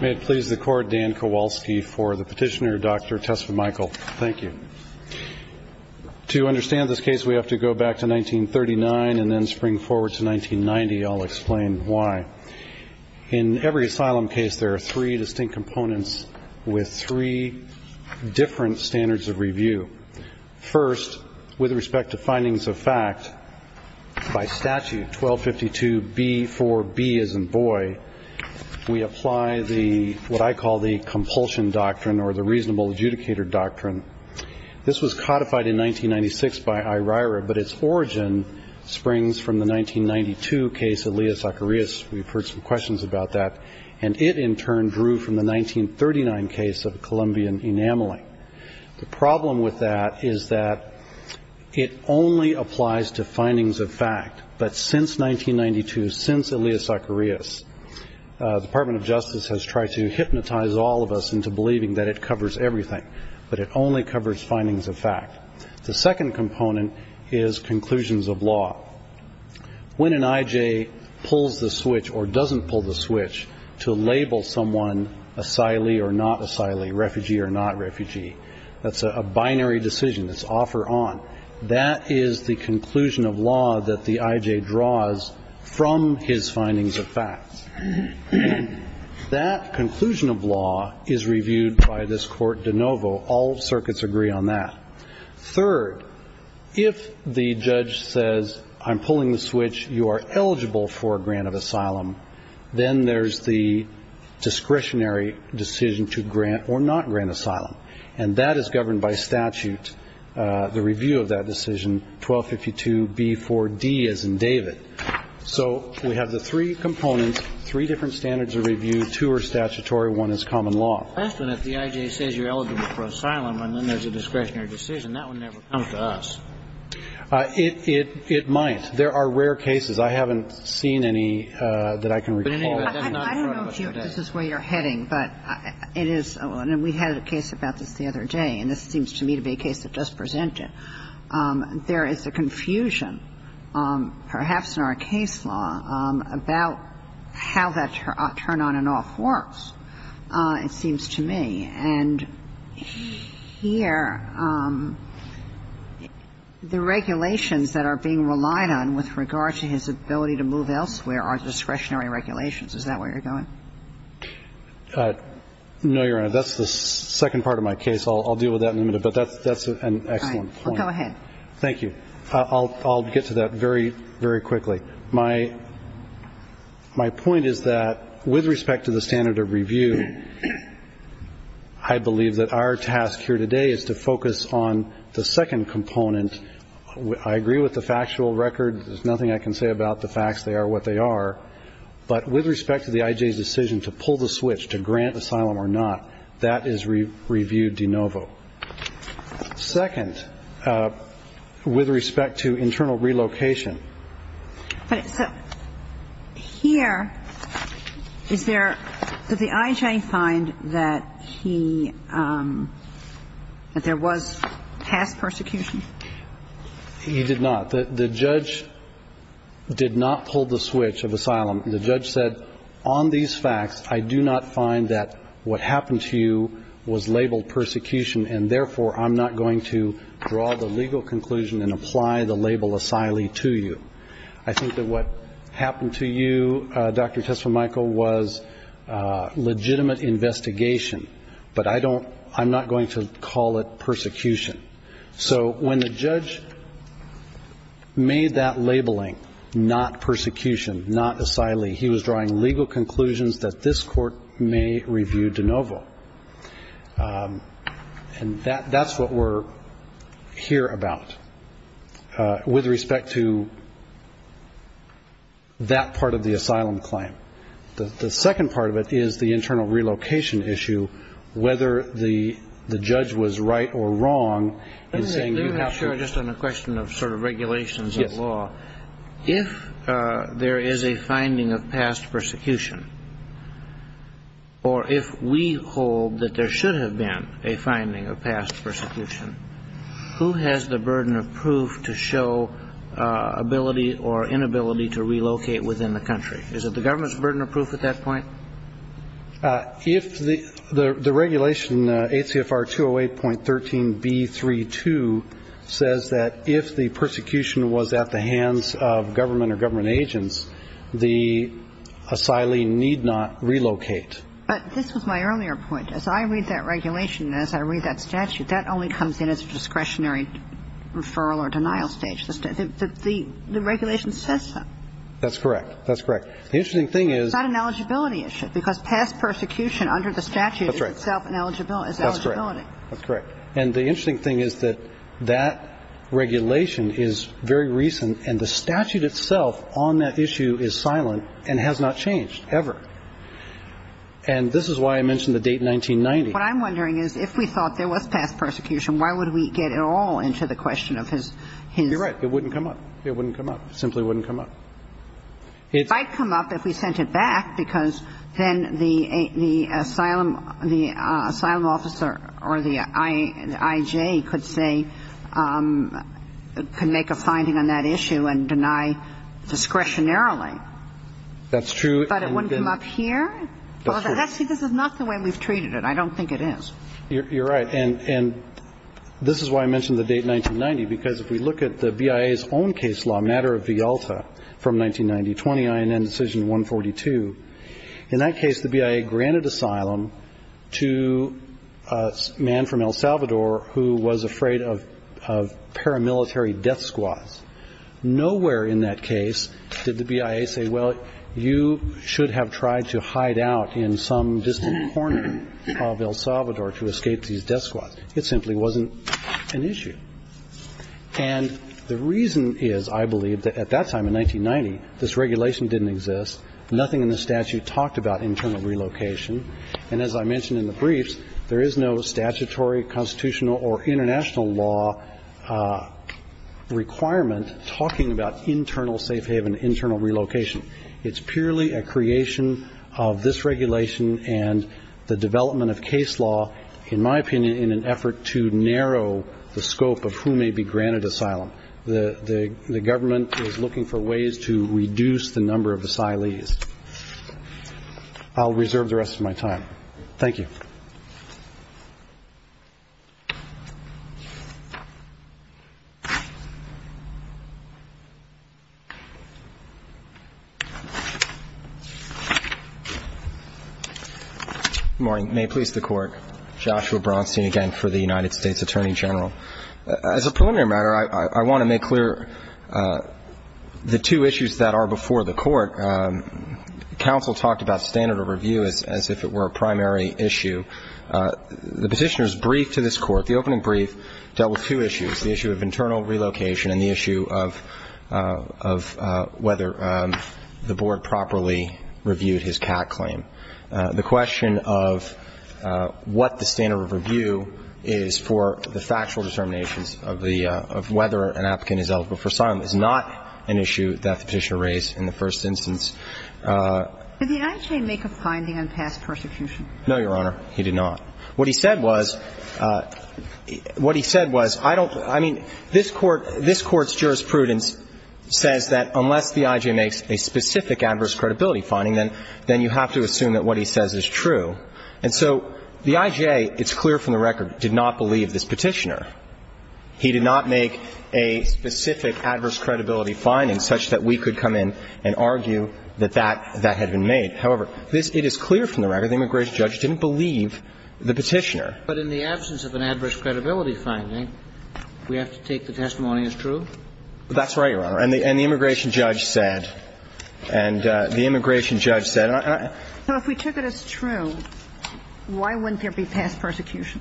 May it please the court, Dan Kowalski for the petitioner, Dr. Tesfamichael. Thank you. To understand this case, we have to go back to 1939 and then spring forward to 1990. I'll explain why. In every asylum case, there are three distinct components with three different standards of review. First, with respect to findings of fact, by statute 1252B4B as in the, what I call the compulsion doctrine or the reasonable adjudicator doctrine. This was codified in 1996 by IRIRA, but its origin springs from the 1992 case of Elias Zacharias. We've heard some questions about that. And it, in turn, grew from the 1939 case of Columbian enameling. The problem with that is that it only applies to findings of fact. But since 1992, since Elias Zacharias, the Department of Justice has tried to hypnotize all of us into believing that it covers everything. But it only covers findings of fact. The second component is conclusions of law. When an I.J. pulls the switch or doesn't pull the switch to label someone asylee or not asylee, refugee or not refugee, that's a binary decision. It's offer on. That is the conclusion of law that the I.J. draws from his findings of facts. That conclusion of law is reviewed by this Court de novo. All circuits agree on that. Third, if the judge says, I'm pulling the switch, you are eligible for a grant of asylum, then there's the discretionary decision to grant or not grant asylum. And that is governed by statute, the review of that decision, 1252b4d, as in David. So we have the three components, three different standards of review, two are statutory, one is common law. The first one, if the I.J. says you're eligible for asylum, and then there's a discretionary decision, that would never come to us. It might. There are rare cases. I haven't seen any that I can recall. But anyway, that's not in front of us today. I don't know if this is where you're heading, but it is. And we had a case about this the other day, and this seems to me to be a case that does present it. There is a confusion, perhaps, in our case law about how that turn-on-and-off works, it seems to me. And here, the regulations that are being relied on with regard to his ability to move elsewhere are discretionary regulations. Is that where you're going? No, Your Honor. That's the second part of my case. I'll deal with that in a minute. But that's an excellent point. All right. Well, go ahead. Thank you. I'll get to that very, very quickly. My point is that, with respect to the standard of review, I believe that our task here today is to focus on the second component. I agree with the factual record. There's nothing I can say about the facts. They are what they are. But with respect to the I.J.'s decision to pull the switch to grant asylum or not, that is review de novo. Second, with respect to internal relocation. But here, is there – does the I.J. find that he – that there was past persecution? He did not. The judge did not pull the switch of asylum. The judge said, but on these facts, I do not find that what happened to you was labeled persecution, and therefore I'm not going to draw the legal conclusion and apply the label asylee to you. I think that what happened to you, Dr. Tesfamichael, was legitimate investigation, but I don't – I'm not going to call it persecution. So when the judge made that labeling, not persecution, not asylee, he was drawing legal conclusions that this court may review de novo. And that's what we're here about, with respect to that part of the asylum claim. The second part of it is the internal relocation issue, whether the judge was right or wrong in saying you have to – Let me make sure, just on a question of sort of regulations of law. Yes. If there is a finding of past persecution, or if we hold that there should have been a finding of past persecution, who has the burden of proof to show ability or inability to relocate within the country? Is it the government's burden of proof at that point? If the regulation, ACFR 208.13b32, says that if the persecution was at the hands of government or government agents, the asylee need not relocate. But this was my earlier point. As I read that regulation and as I read that statute, that only comes in as a discretionary referral or denial stage. The regulation says that. That's correct. That's correct. The interesting thing is It's not an eligibility issue. Because past persecution under the statute is itself an eligibility. That's correct. That's correct. And the interesting thing is that that regulation is very recent and the statute itself on that issue is silent and has not changed ever. And this is why I mentioned the date 1990. What I'm wondering is if we thought there was past persecution, why would we get it all into the question of his – You're right. It wouldn't come up. It wouldn't come up. It simply wouldn't come up. It might come up if we sent it back because then the asylum officer or the IJ could say – could make a finding on that issue and deny discretionarily. That's true. But it wouldn't come up here? That's true. See, this is not the way we've treated it. I don't think it is. You're right. And this is why I mentioned the date 1990. Because if we look at the BIA's own case law, Matter of Vialta, from 1990-20, INN Decision 142, in that case the BIA granted asylum to a man from El Salvador who was afraid of paramilitary death squads. Nowhere in that case did the BIA say, well, you should have tried to hide out in some distant corner of El Salvador to escape these death squads. It simply wasn't an issue. And the reason is, I believe, that at that time in 1990 this regulation didn't exist. Nothing in the statute talked about internal relocation. And as I mentioned in the briefs, there is no statutory constitutional or international law requirement talking about internal safe haven, internal relocation. It's purely a creation of this regulation and the development of case law, in my opinion, in an effort to narrow the scope of who may be granted asylum. The government is looking for ways to reduce the number of asylees. I'll reserve the rest of my time. Thank you. Good morning. May it please the Court. Joshua Bronstein again for the United States Attorney General. As a preliminary matter, I want to make clear the two issues that are before the Court. Counsel talked about standard of review as if it were a primary issue. The Petitioner's brief to this Court, the opening brief, dealt with two issues, the issue of internal relocation and the issue of whether the Board properly reviewed his CAT claim. The question of what the standard of review is for the factual determinations of whether an applicant is eligible for asylum is not an issue that the Petitioner raised in the first instance. Did the IJA make a finding on past persecution? No, Your Honor, he did not. What he said was, what he said was, I don't – I mean, this Court's jurisprudence says that unless the IJA makes a specific adverse credibility finding, then you have to assume that what he says is true. And so the IJA, it's clear from the record, did not believe this Petitioner. He did not make a specific adverse credibility finding such that we could come in and argue that that had been made. However, it is clear from the record the immigration judge didn't believe the Petitioner. But in the absence of an adverse credibility finding, we have to take the testimony as true? That's right, Your Honor. And the immigration judge said – and the immigration judge said – So if we took it as true, why wouldn't there be past persecution?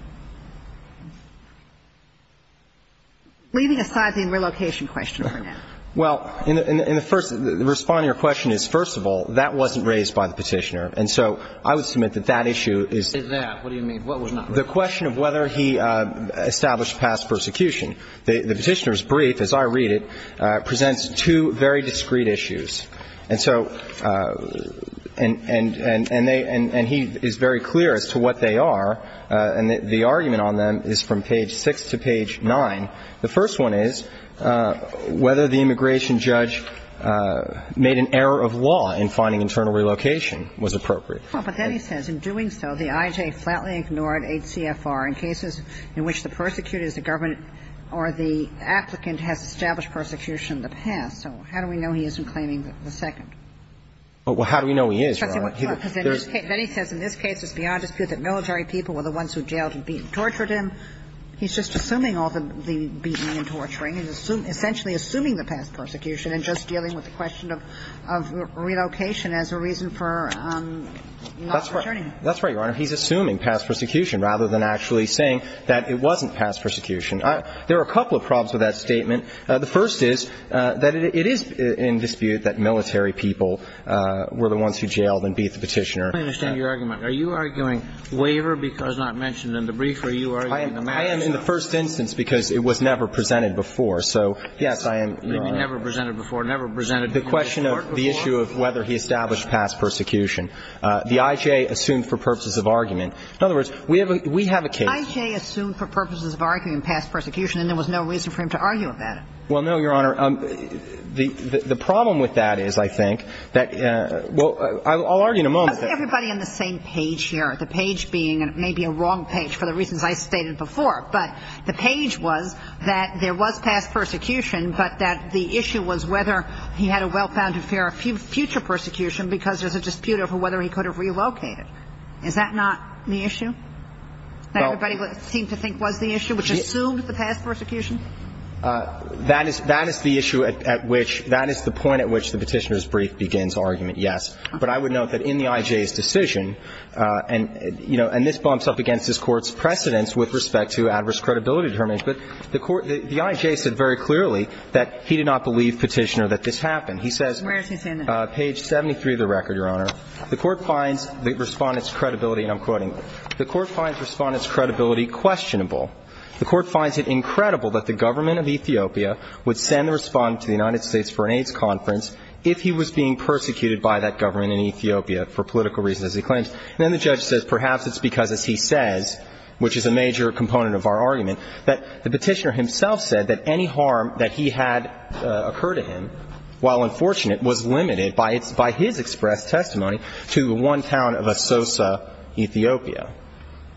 Leaving aside the relocation question for now. Well, in the first – responding to your question is, first of all, that wasn't raised by the Petitioner. And so I would submit that that issue is – Is that? What do you mean? What was not raised? The question of whether he established past persecution. The Petitioner's brief, as I read it, presents two very discrete issues. And so – and they – and he is very clear as to what they are. And the argument on them is from page 6 to page 9. The first one is whether the immigration judge made an error of law in finding internal relocation was appropriate. Well, but then he says, In doing so, the IJ flatly ignored HCFR in cases in which the persecutor is the government or the applicant has established persecution in the past. So how do we know he isn't claiming the second? Well, how do we know he is, Your Honor? Because then he says, In this case, it's beyond dispute that military people were the ones who jailed and tortured him. He's just assuming all the beating and torturing and essentially assuming the past persecution and just dealing with the question of relocation as a reason for not returning him. That's right, Your Honor. He's assuming past persecution rather than actually saying that it wasn't past persecution. There are a couple of problems with that statement. The first is that it is in dispute that military people were the ones who jailed and beat the Petitioner. I understand your argument. Are you arguing waiver because not mentioned in the brief? I am in the first instance because it was never presented before. So, yes, I am. Never presented before? Never presented before? The question of the issue of whether he established past persecution. The IJ assumed for purposes of argument. In other words, we have a case. The IJ assumed for purposes of argument past persecution and there was no reason for him to argue about it. Well, no, Your Honor. The problem with that is, I think, that – well, I'll argue in a moment. Everybody on the same page here, the page being maybe a wrong page for the reasons I stated before, but the page was that there was past persecution, but that the issue was whether he had a well-founded fear of future persecution because there's a dispute over whether he could have relocated. Is that not the issue that everybody seemed to think was the issue, which assumed the past persecution? That is the issue at which – that is the point at which the Petitioner's brief begins argument, yes. But I would note that in the IJ's decision, and, you know, and this bumps up against this Court's precedence with respect to adverse credibility determinants, but the court – the IJ said very clearly that he did not believe Petitioner that this happened. He says – Where is he saying that? Page 73 of the record, Your Honor. The Court finds the Respondent's credibility, and I'm quoting, The Court finds Respondent's credibility questionable. The Court finds it incredible that the government of Ethiopia would send a Respondent to the United States for an AIDS conference if he was being persecuted by that government in Ethiopia for political reasons, as he claims. And then the judge says perhaps it's because, as he says, which is a major component of our argument, that the Petitioner himself said that any harm that he had occur to him, while unfortunate, was limited by its – by his expressed testimony to one town of Asosa, Ethiopia.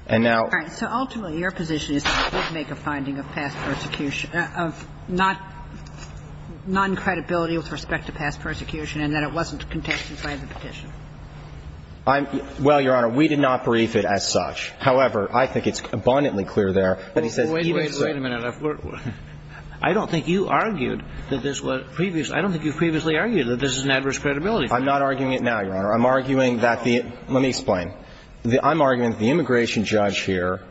And now – All right. So ultimately, your position is that he did make a finding of past persecution – of non-credibility with respect to past persecution, and that it wasn't contested by the Petitioner. I'm – well, Your Honor, we did not brief it as such. However, I think it's abundantly clear there that he says he didn't say – Wait a minute. I don't think you argued that this was previously – I don't think you previously argued that this is an adverse credibility. I'm not arguing it now, Your Honor. I'm arguing that the – let me explain. I'm arguing that the immigration judge here –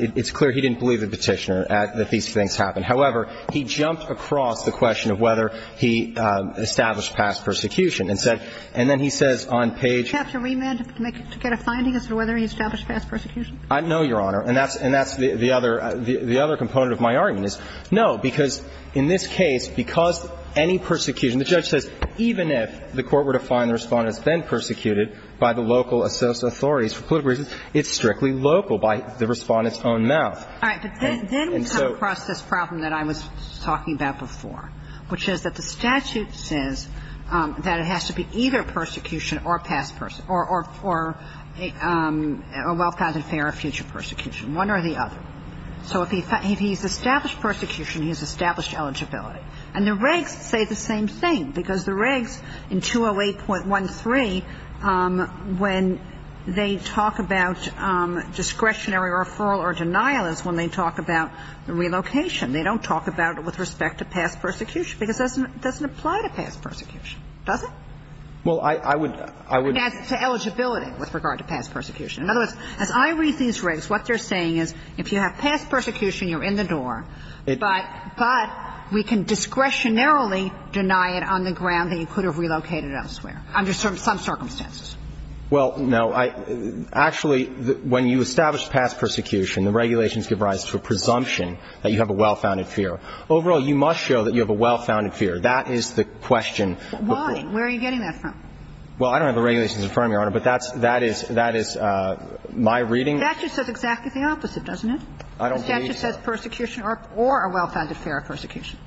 it's clear he didn't believe the Petitioner that these things happened. However, he jumped across the question of whether he established past persecution and said – and then he says on page – Do you have to remand to make – to get a finding as to whether he established past persecution? No, Your Honor. And that's – and that's the other – the other component of my argument is no, because in this case, because any persecution – the judge says even if the court were to find the Respondent's been persecuted by the local authorities for political reasons, it's strictly local by the Respondent's own mouth. And so – All right. But then we come across this problem that I was talking about before, which is that the statute says that it has to be either persecution or past – or a well-founded affair of future persecution, one or the other. So if he's established persecution, he's established eligibility. And the regs say the same thing, because the regs in 208.13, when they talk about discretionary referral or denial is when they talk about the relocation. They don't talk about it with respect to past persecution, because it doesn't apply to past persecution, does it? Well, I would – I would – And that's to eligibility with regard to past persecution. In other words, as I read these regs, what they're saying is if you have past persecution, you're in the door, but – but we can discretionarily deny it on the ground that you could have relocated elsewhere under some circumstances. Well, no. Actually, when you establish past persecution, the regulations give rise to a presumption that you have a well-founded fear. Overall, you must show that you have a well-founded fear. That is the question. Why? Where are you getting that from? Well, I don't have the regulations in front of me, Your Honor, but that's – that is – that is my reading. The statute says exactly the opposite, doesn't it? I don't believe so. The statute says persecution or a well-founded fear of persecution.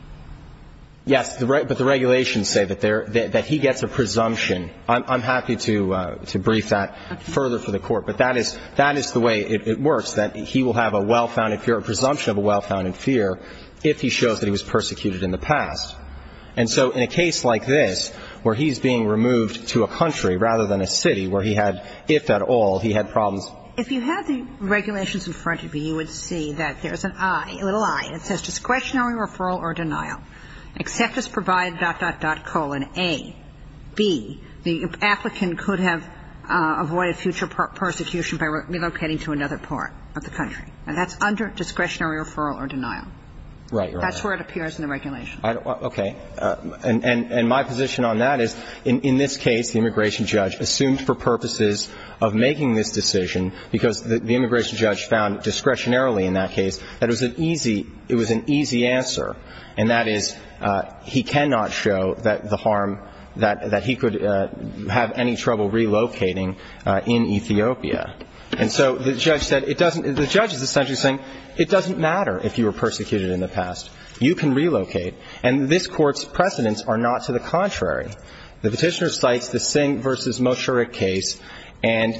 Yes. But the regulations say that there – that he gets a presumption. I'm happy to – to brief that further for the Court. But that is – that is the way it works, that he will have a well-founded fear, a presumption of a well-founded fear, if he shows that he was persecuted in the past. And so in a case like this, where he's being removed to a country rather than a city where he had, if at all, he had problems. If you had the regulations in front of you, you would see that there's an I, a little I. It says, Discretionary referral or denial. Accept as provided, dot, dot, dot, colon, A. B, the applicant could have avoided future persecution by relocating to another part of the country. And that's under discretionary referral or denial. Right, Your Honor. That's where it appears in the regulations. Okay. And – and my position on that is, in this case, the immigration judge assumed for purposes of making this decision, because the immigration judge found discretionarily in that case that it was an easy – it was an easy answer. And that is, he cannot show that the harm – that he could have any trouble relocating in Ethiopia. And so the judge said, it doesn't – the judge is essentially saying, it doesn't matter if you were persecuted in the past. You can relocate. And this Court's precedents are not to the contrary. The Petitioner cites the Singh v. Mosharik case, and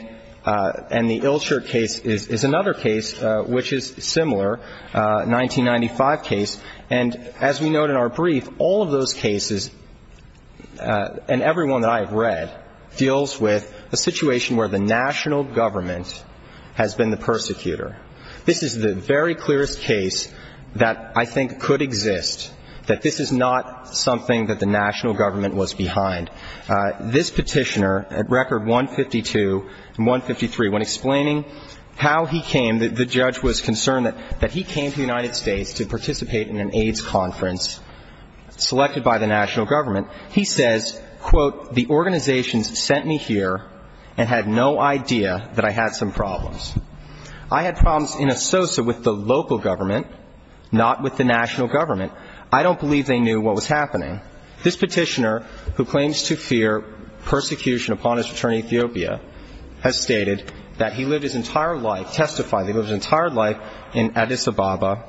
the Ilshar case is another case which is similar, a 1995 case. And as we note in our brief, all of those cases, and every one that I have read, deals with a situation where the national government has been the persecutor. This is the very clearest case that I think could exist, that this is not something that the national government was behind. This Petitioner, at Record 152 and 153, when explaining how he came, the judge was concerned that he came to the United States to participate in an AIDS conference selected by the national government, he says, quote, the organizations sent me here and had no idea that I had some problems. I had problems in a sosa with the local government, not with the national government. I don't believe they knew what was happening. This Petitioner, who claims to fear persecution upon his return to Ethiopia, has stated that he lived his entire life, testified that he lived his entire life in Addis Ababa,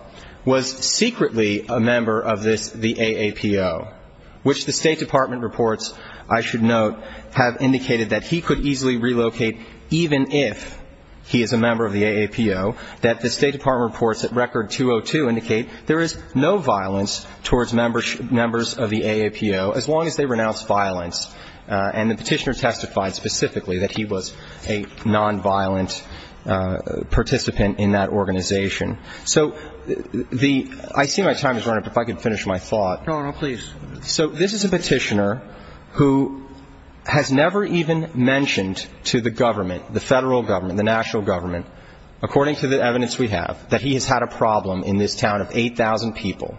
was secretly a member of this, the AAPO, which the State Department reports, I should note, have indicated that he could easily relocate even if he is a member of the AAPO, that the State Department reports at Record 202 indicate there is no violence towards members of the AAPO, as long as they renounce violence. And the Petitioner testified specifically that he was a nonviolent participant in that organization. So the ‑‑ I see my time is running up. If I could finish my thought. So this is a Petitioner who has never even mentioned to the government, the federal government, the national government, according to the evidence we have, that he has had a problem in this town of 8,000 people.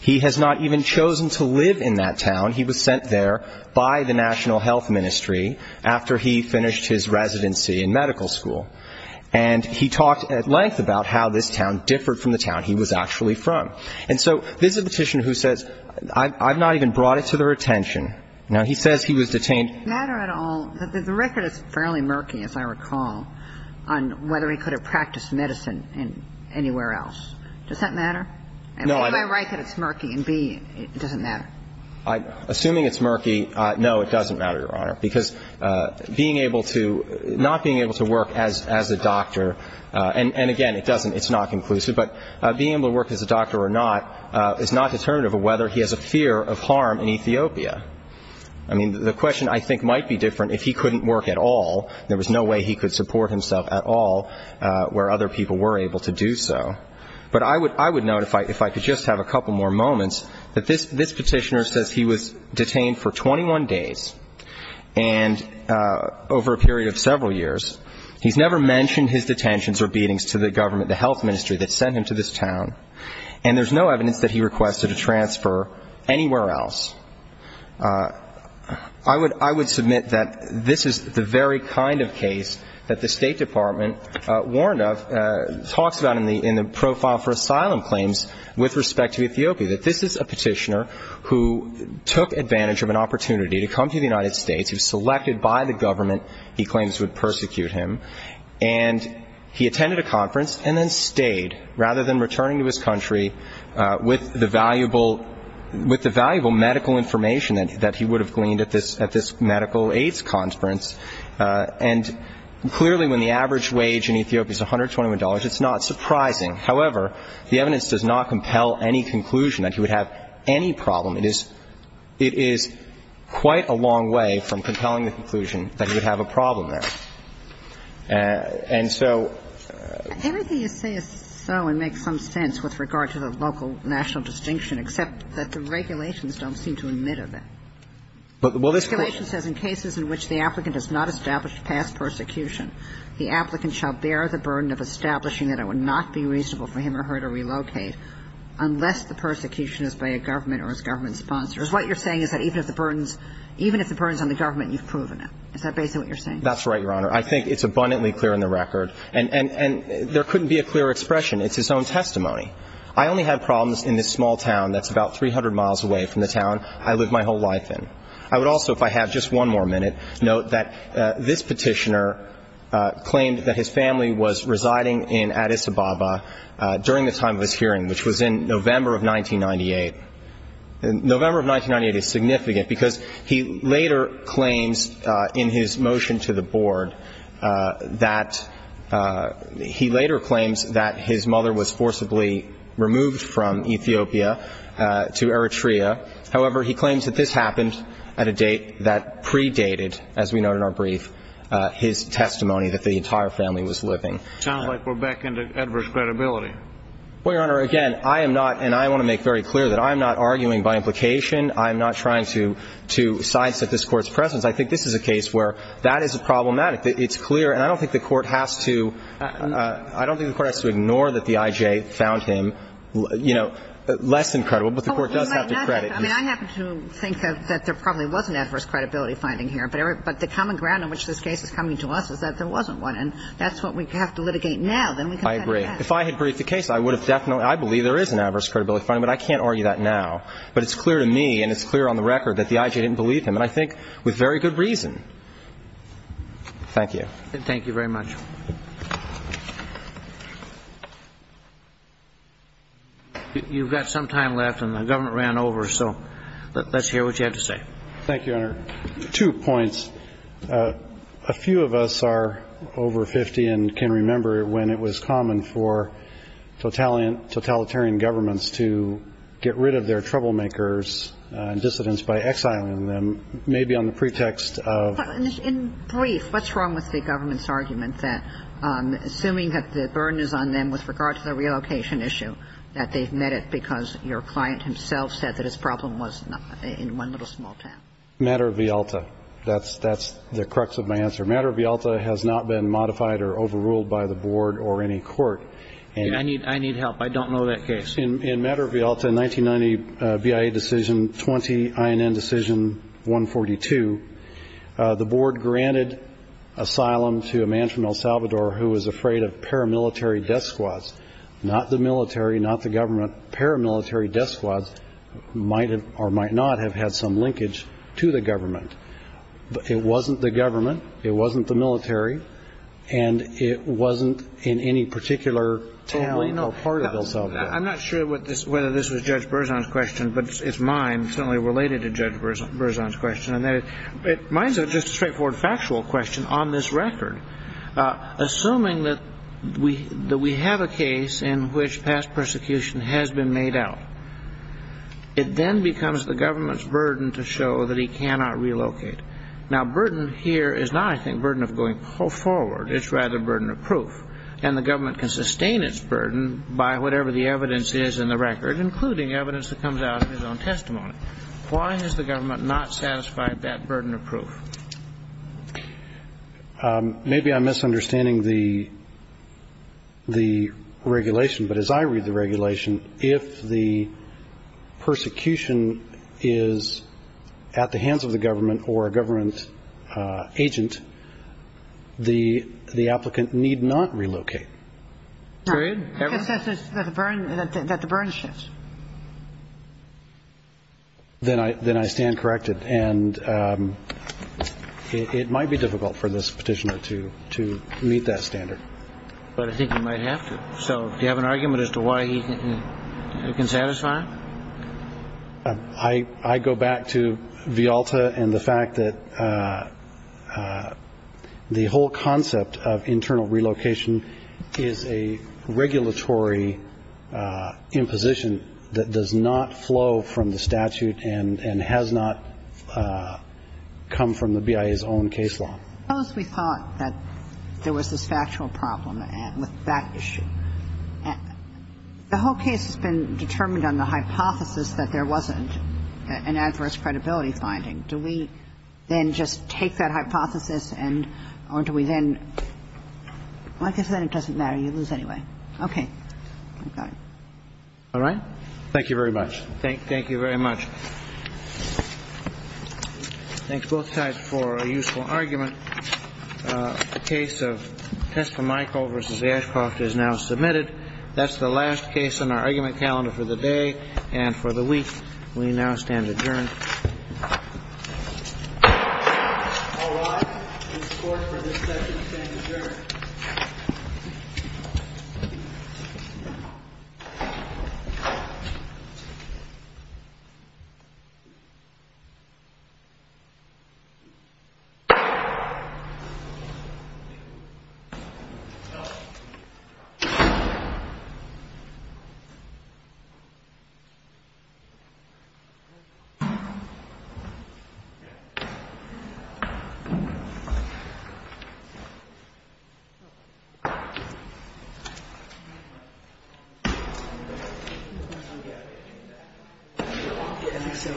He has not even chosen to live in that town. He was sent there by the National Health Ministry after he finished his residency in medical school. And he talked at length about how this town differed from the town he was actually from. And so this is a Petitioner who says, I've not even brought it to their attention. Now, he says he was detained. Does it matter at all? The record is fairly murky, as I recall, on whether he could have practiced medicine anywhere else. Does that matter? Am I right that it's murky in B, it doesn't matter? Assuming it's murky, no, it doesn't matter, Your Honor, because being able to ‑‑ not being able to work as a doctor, and again, it doesn't, it's not conclusive, but being able to work as a doctor or not is not determinative of whether he has a fear of harm in Ethiopia. I mean, the question I think might be different if he couldn't work at all. There was no way he could support himself at all where other people were able to do so. But I would note, if I could just have a couple more moments, that this Petitioner says he was detained for 21 days, and over a period of several years. He's never mentioned his detentions or beatings to the government, the health ministry that sent him to this town. And there's no evidence that he requested a transfer anywhere else. I would submit that this is the very kind of case that the State Department warned of, talks about in the profile for asylum claims with respect to Ethiopia, that this is a Petitioner who took advantage of an opportunity to come to the United States, who was selected by the government he claims would persecute him, and he attended a conference and then stayed, rather than returning to his And I would say that this Petitioner, with the valuable medical information that he would have gleaned at this medical AIDS conference, and clearly when the average wage in Ethiopia is $121, it's not surprising. However, the evidence does not compel any conclusion that he would have any problem. It is quite a long way from compelling the conclusion that he would have a problem there. And so ---- Everything you say is so and makes some sense with regard to the local national distinction, except that the regulations don't seem to admit of it. Well, this Court ---- The regulation says in cases in which the applicant has not established past persecution, the applicant shall bear the burden of establishing that it would not be reasonable for him or her to relocate unless the persecution is by a government or his government sponsors. What you're saying is that even if the burden is on the government, you've proven it. Is that basically what you're saying? That's right, Your Honor. I think it's abundantly clear in the record. And there couldn't be a clearer expression. It's his own testimony. I only have problems in this small town that's about 300 miles away from the town I lived my whole life in. I would also, if I have just one more minute, note that this Petitioner claimed that his family was residing in Addis Ababa during the time of this hearing, which was in November of 1998. November of 1998 is significant because he later claims in his motion to the Board that he later claims that his mother was forcibly removed from Ethiopia to Eritrea. However, he claims that this happened at a date that predated, as we note in our brief, his testimony that the entire family was living. Sounds like we're back into adverse credibility. Well, Your Honor, again, I am not, and I want to make very clear that I am not arguing by implication. I am not trying to sideset this Court's presence. I think this is a case where that is problematic. It's clear. And I don't think the Court has to ignore that the I.J. found him, you know, less than credible. But the Court does have to credit him. I mean, I happen to think that there probably was an adverse credibility finding here. But the common ground on which this case is coming to us is that there wasn't one. And that's what we have to litigate now. I agree. If I had briefed the case, I would have definitely, I believe there is an adverse credibility finding. But I can't argue that now. But it's clear to me and it's clear on the record that the I.J. didn't believe him. And I think with very good reason. Thank you. Thank you very much. You've got some time left and the government ran over, so let's hear what you have to say. Thank you, Your Honor. Two points. A few of us are over 50 and can remember when it was common for totalitarian governments to get rid of their troublemakers and dissidents by exiling them, maybe on the pretext of. In brief, what's wrong with the government's argument that assuming that the burden is on them with regard to the relocation issue, that they've met it because your client himself said that his problem was in one little small town? Matter of Vialta. That's the crux of my answer. Matter of Vialta has not been modified or overruled by the Board or any court. I need help. I don't know that case. In Matter of Vialta, 1990, BIA decision 20, INN decision 142, the Board granted asylum to a man from El Salvador who was afraid of paramilitary death squads. Not the military, not the government. Paramilitary death squads might or might not have had some linkage to the government. It wasn't the military. And it wasn't in any particular town or part of El Salvador. I'm not sure whether this was Judge Berzon's question, but it's mine. It's certainly related to Judge Berzon's question. Mine is just a straightforward factual question on this record. Assuming that we have a case in which past persecution has been made out, it then becomes the government's burden to show that he cannot relocate. Now, burden here is not, I think, burden of going forward. It's rather burden of proof. And the government can sustain its burden by whatever the evidence is in the record, including evidence that comes out of his own testimony. Why has the government not satisfied that burden of proof? Maybe I'm misunderstanding the regulation, but as I read the regulation, if the persecution is at the hands of the government or a government agent, the applicant need not relocate. Period? That the burden shifts. Then I stand corrected. And it might be difficult for this petitioner to meet that standard. But I think he might have to. So do you have an argument as to why he can satisfy it? I go back to Vialta and the fact that the whole concept of internal relocation is a regulatory imposition that does not flow from the statute and has not come from the BIA's own case law. Suppose we thought that there was this factual problem with that issue. The whole case has been determined on the hypothesis that there wasn't an adverse credibility finding. Do we then just take that hypothesis and or do we then, like I said, it doesn't matter. You lose anyway. Okay. All right. Thank you very much. Thank you very much. Thanks both sides for a useful argument. The case of Testamichael versus Ashcroft is now submitted. That's the last case in our argument calendar for the day and for the week. We now stand adjourned. All rise. This court for this session stands adjourned. Thank you. Thank you. Thank you.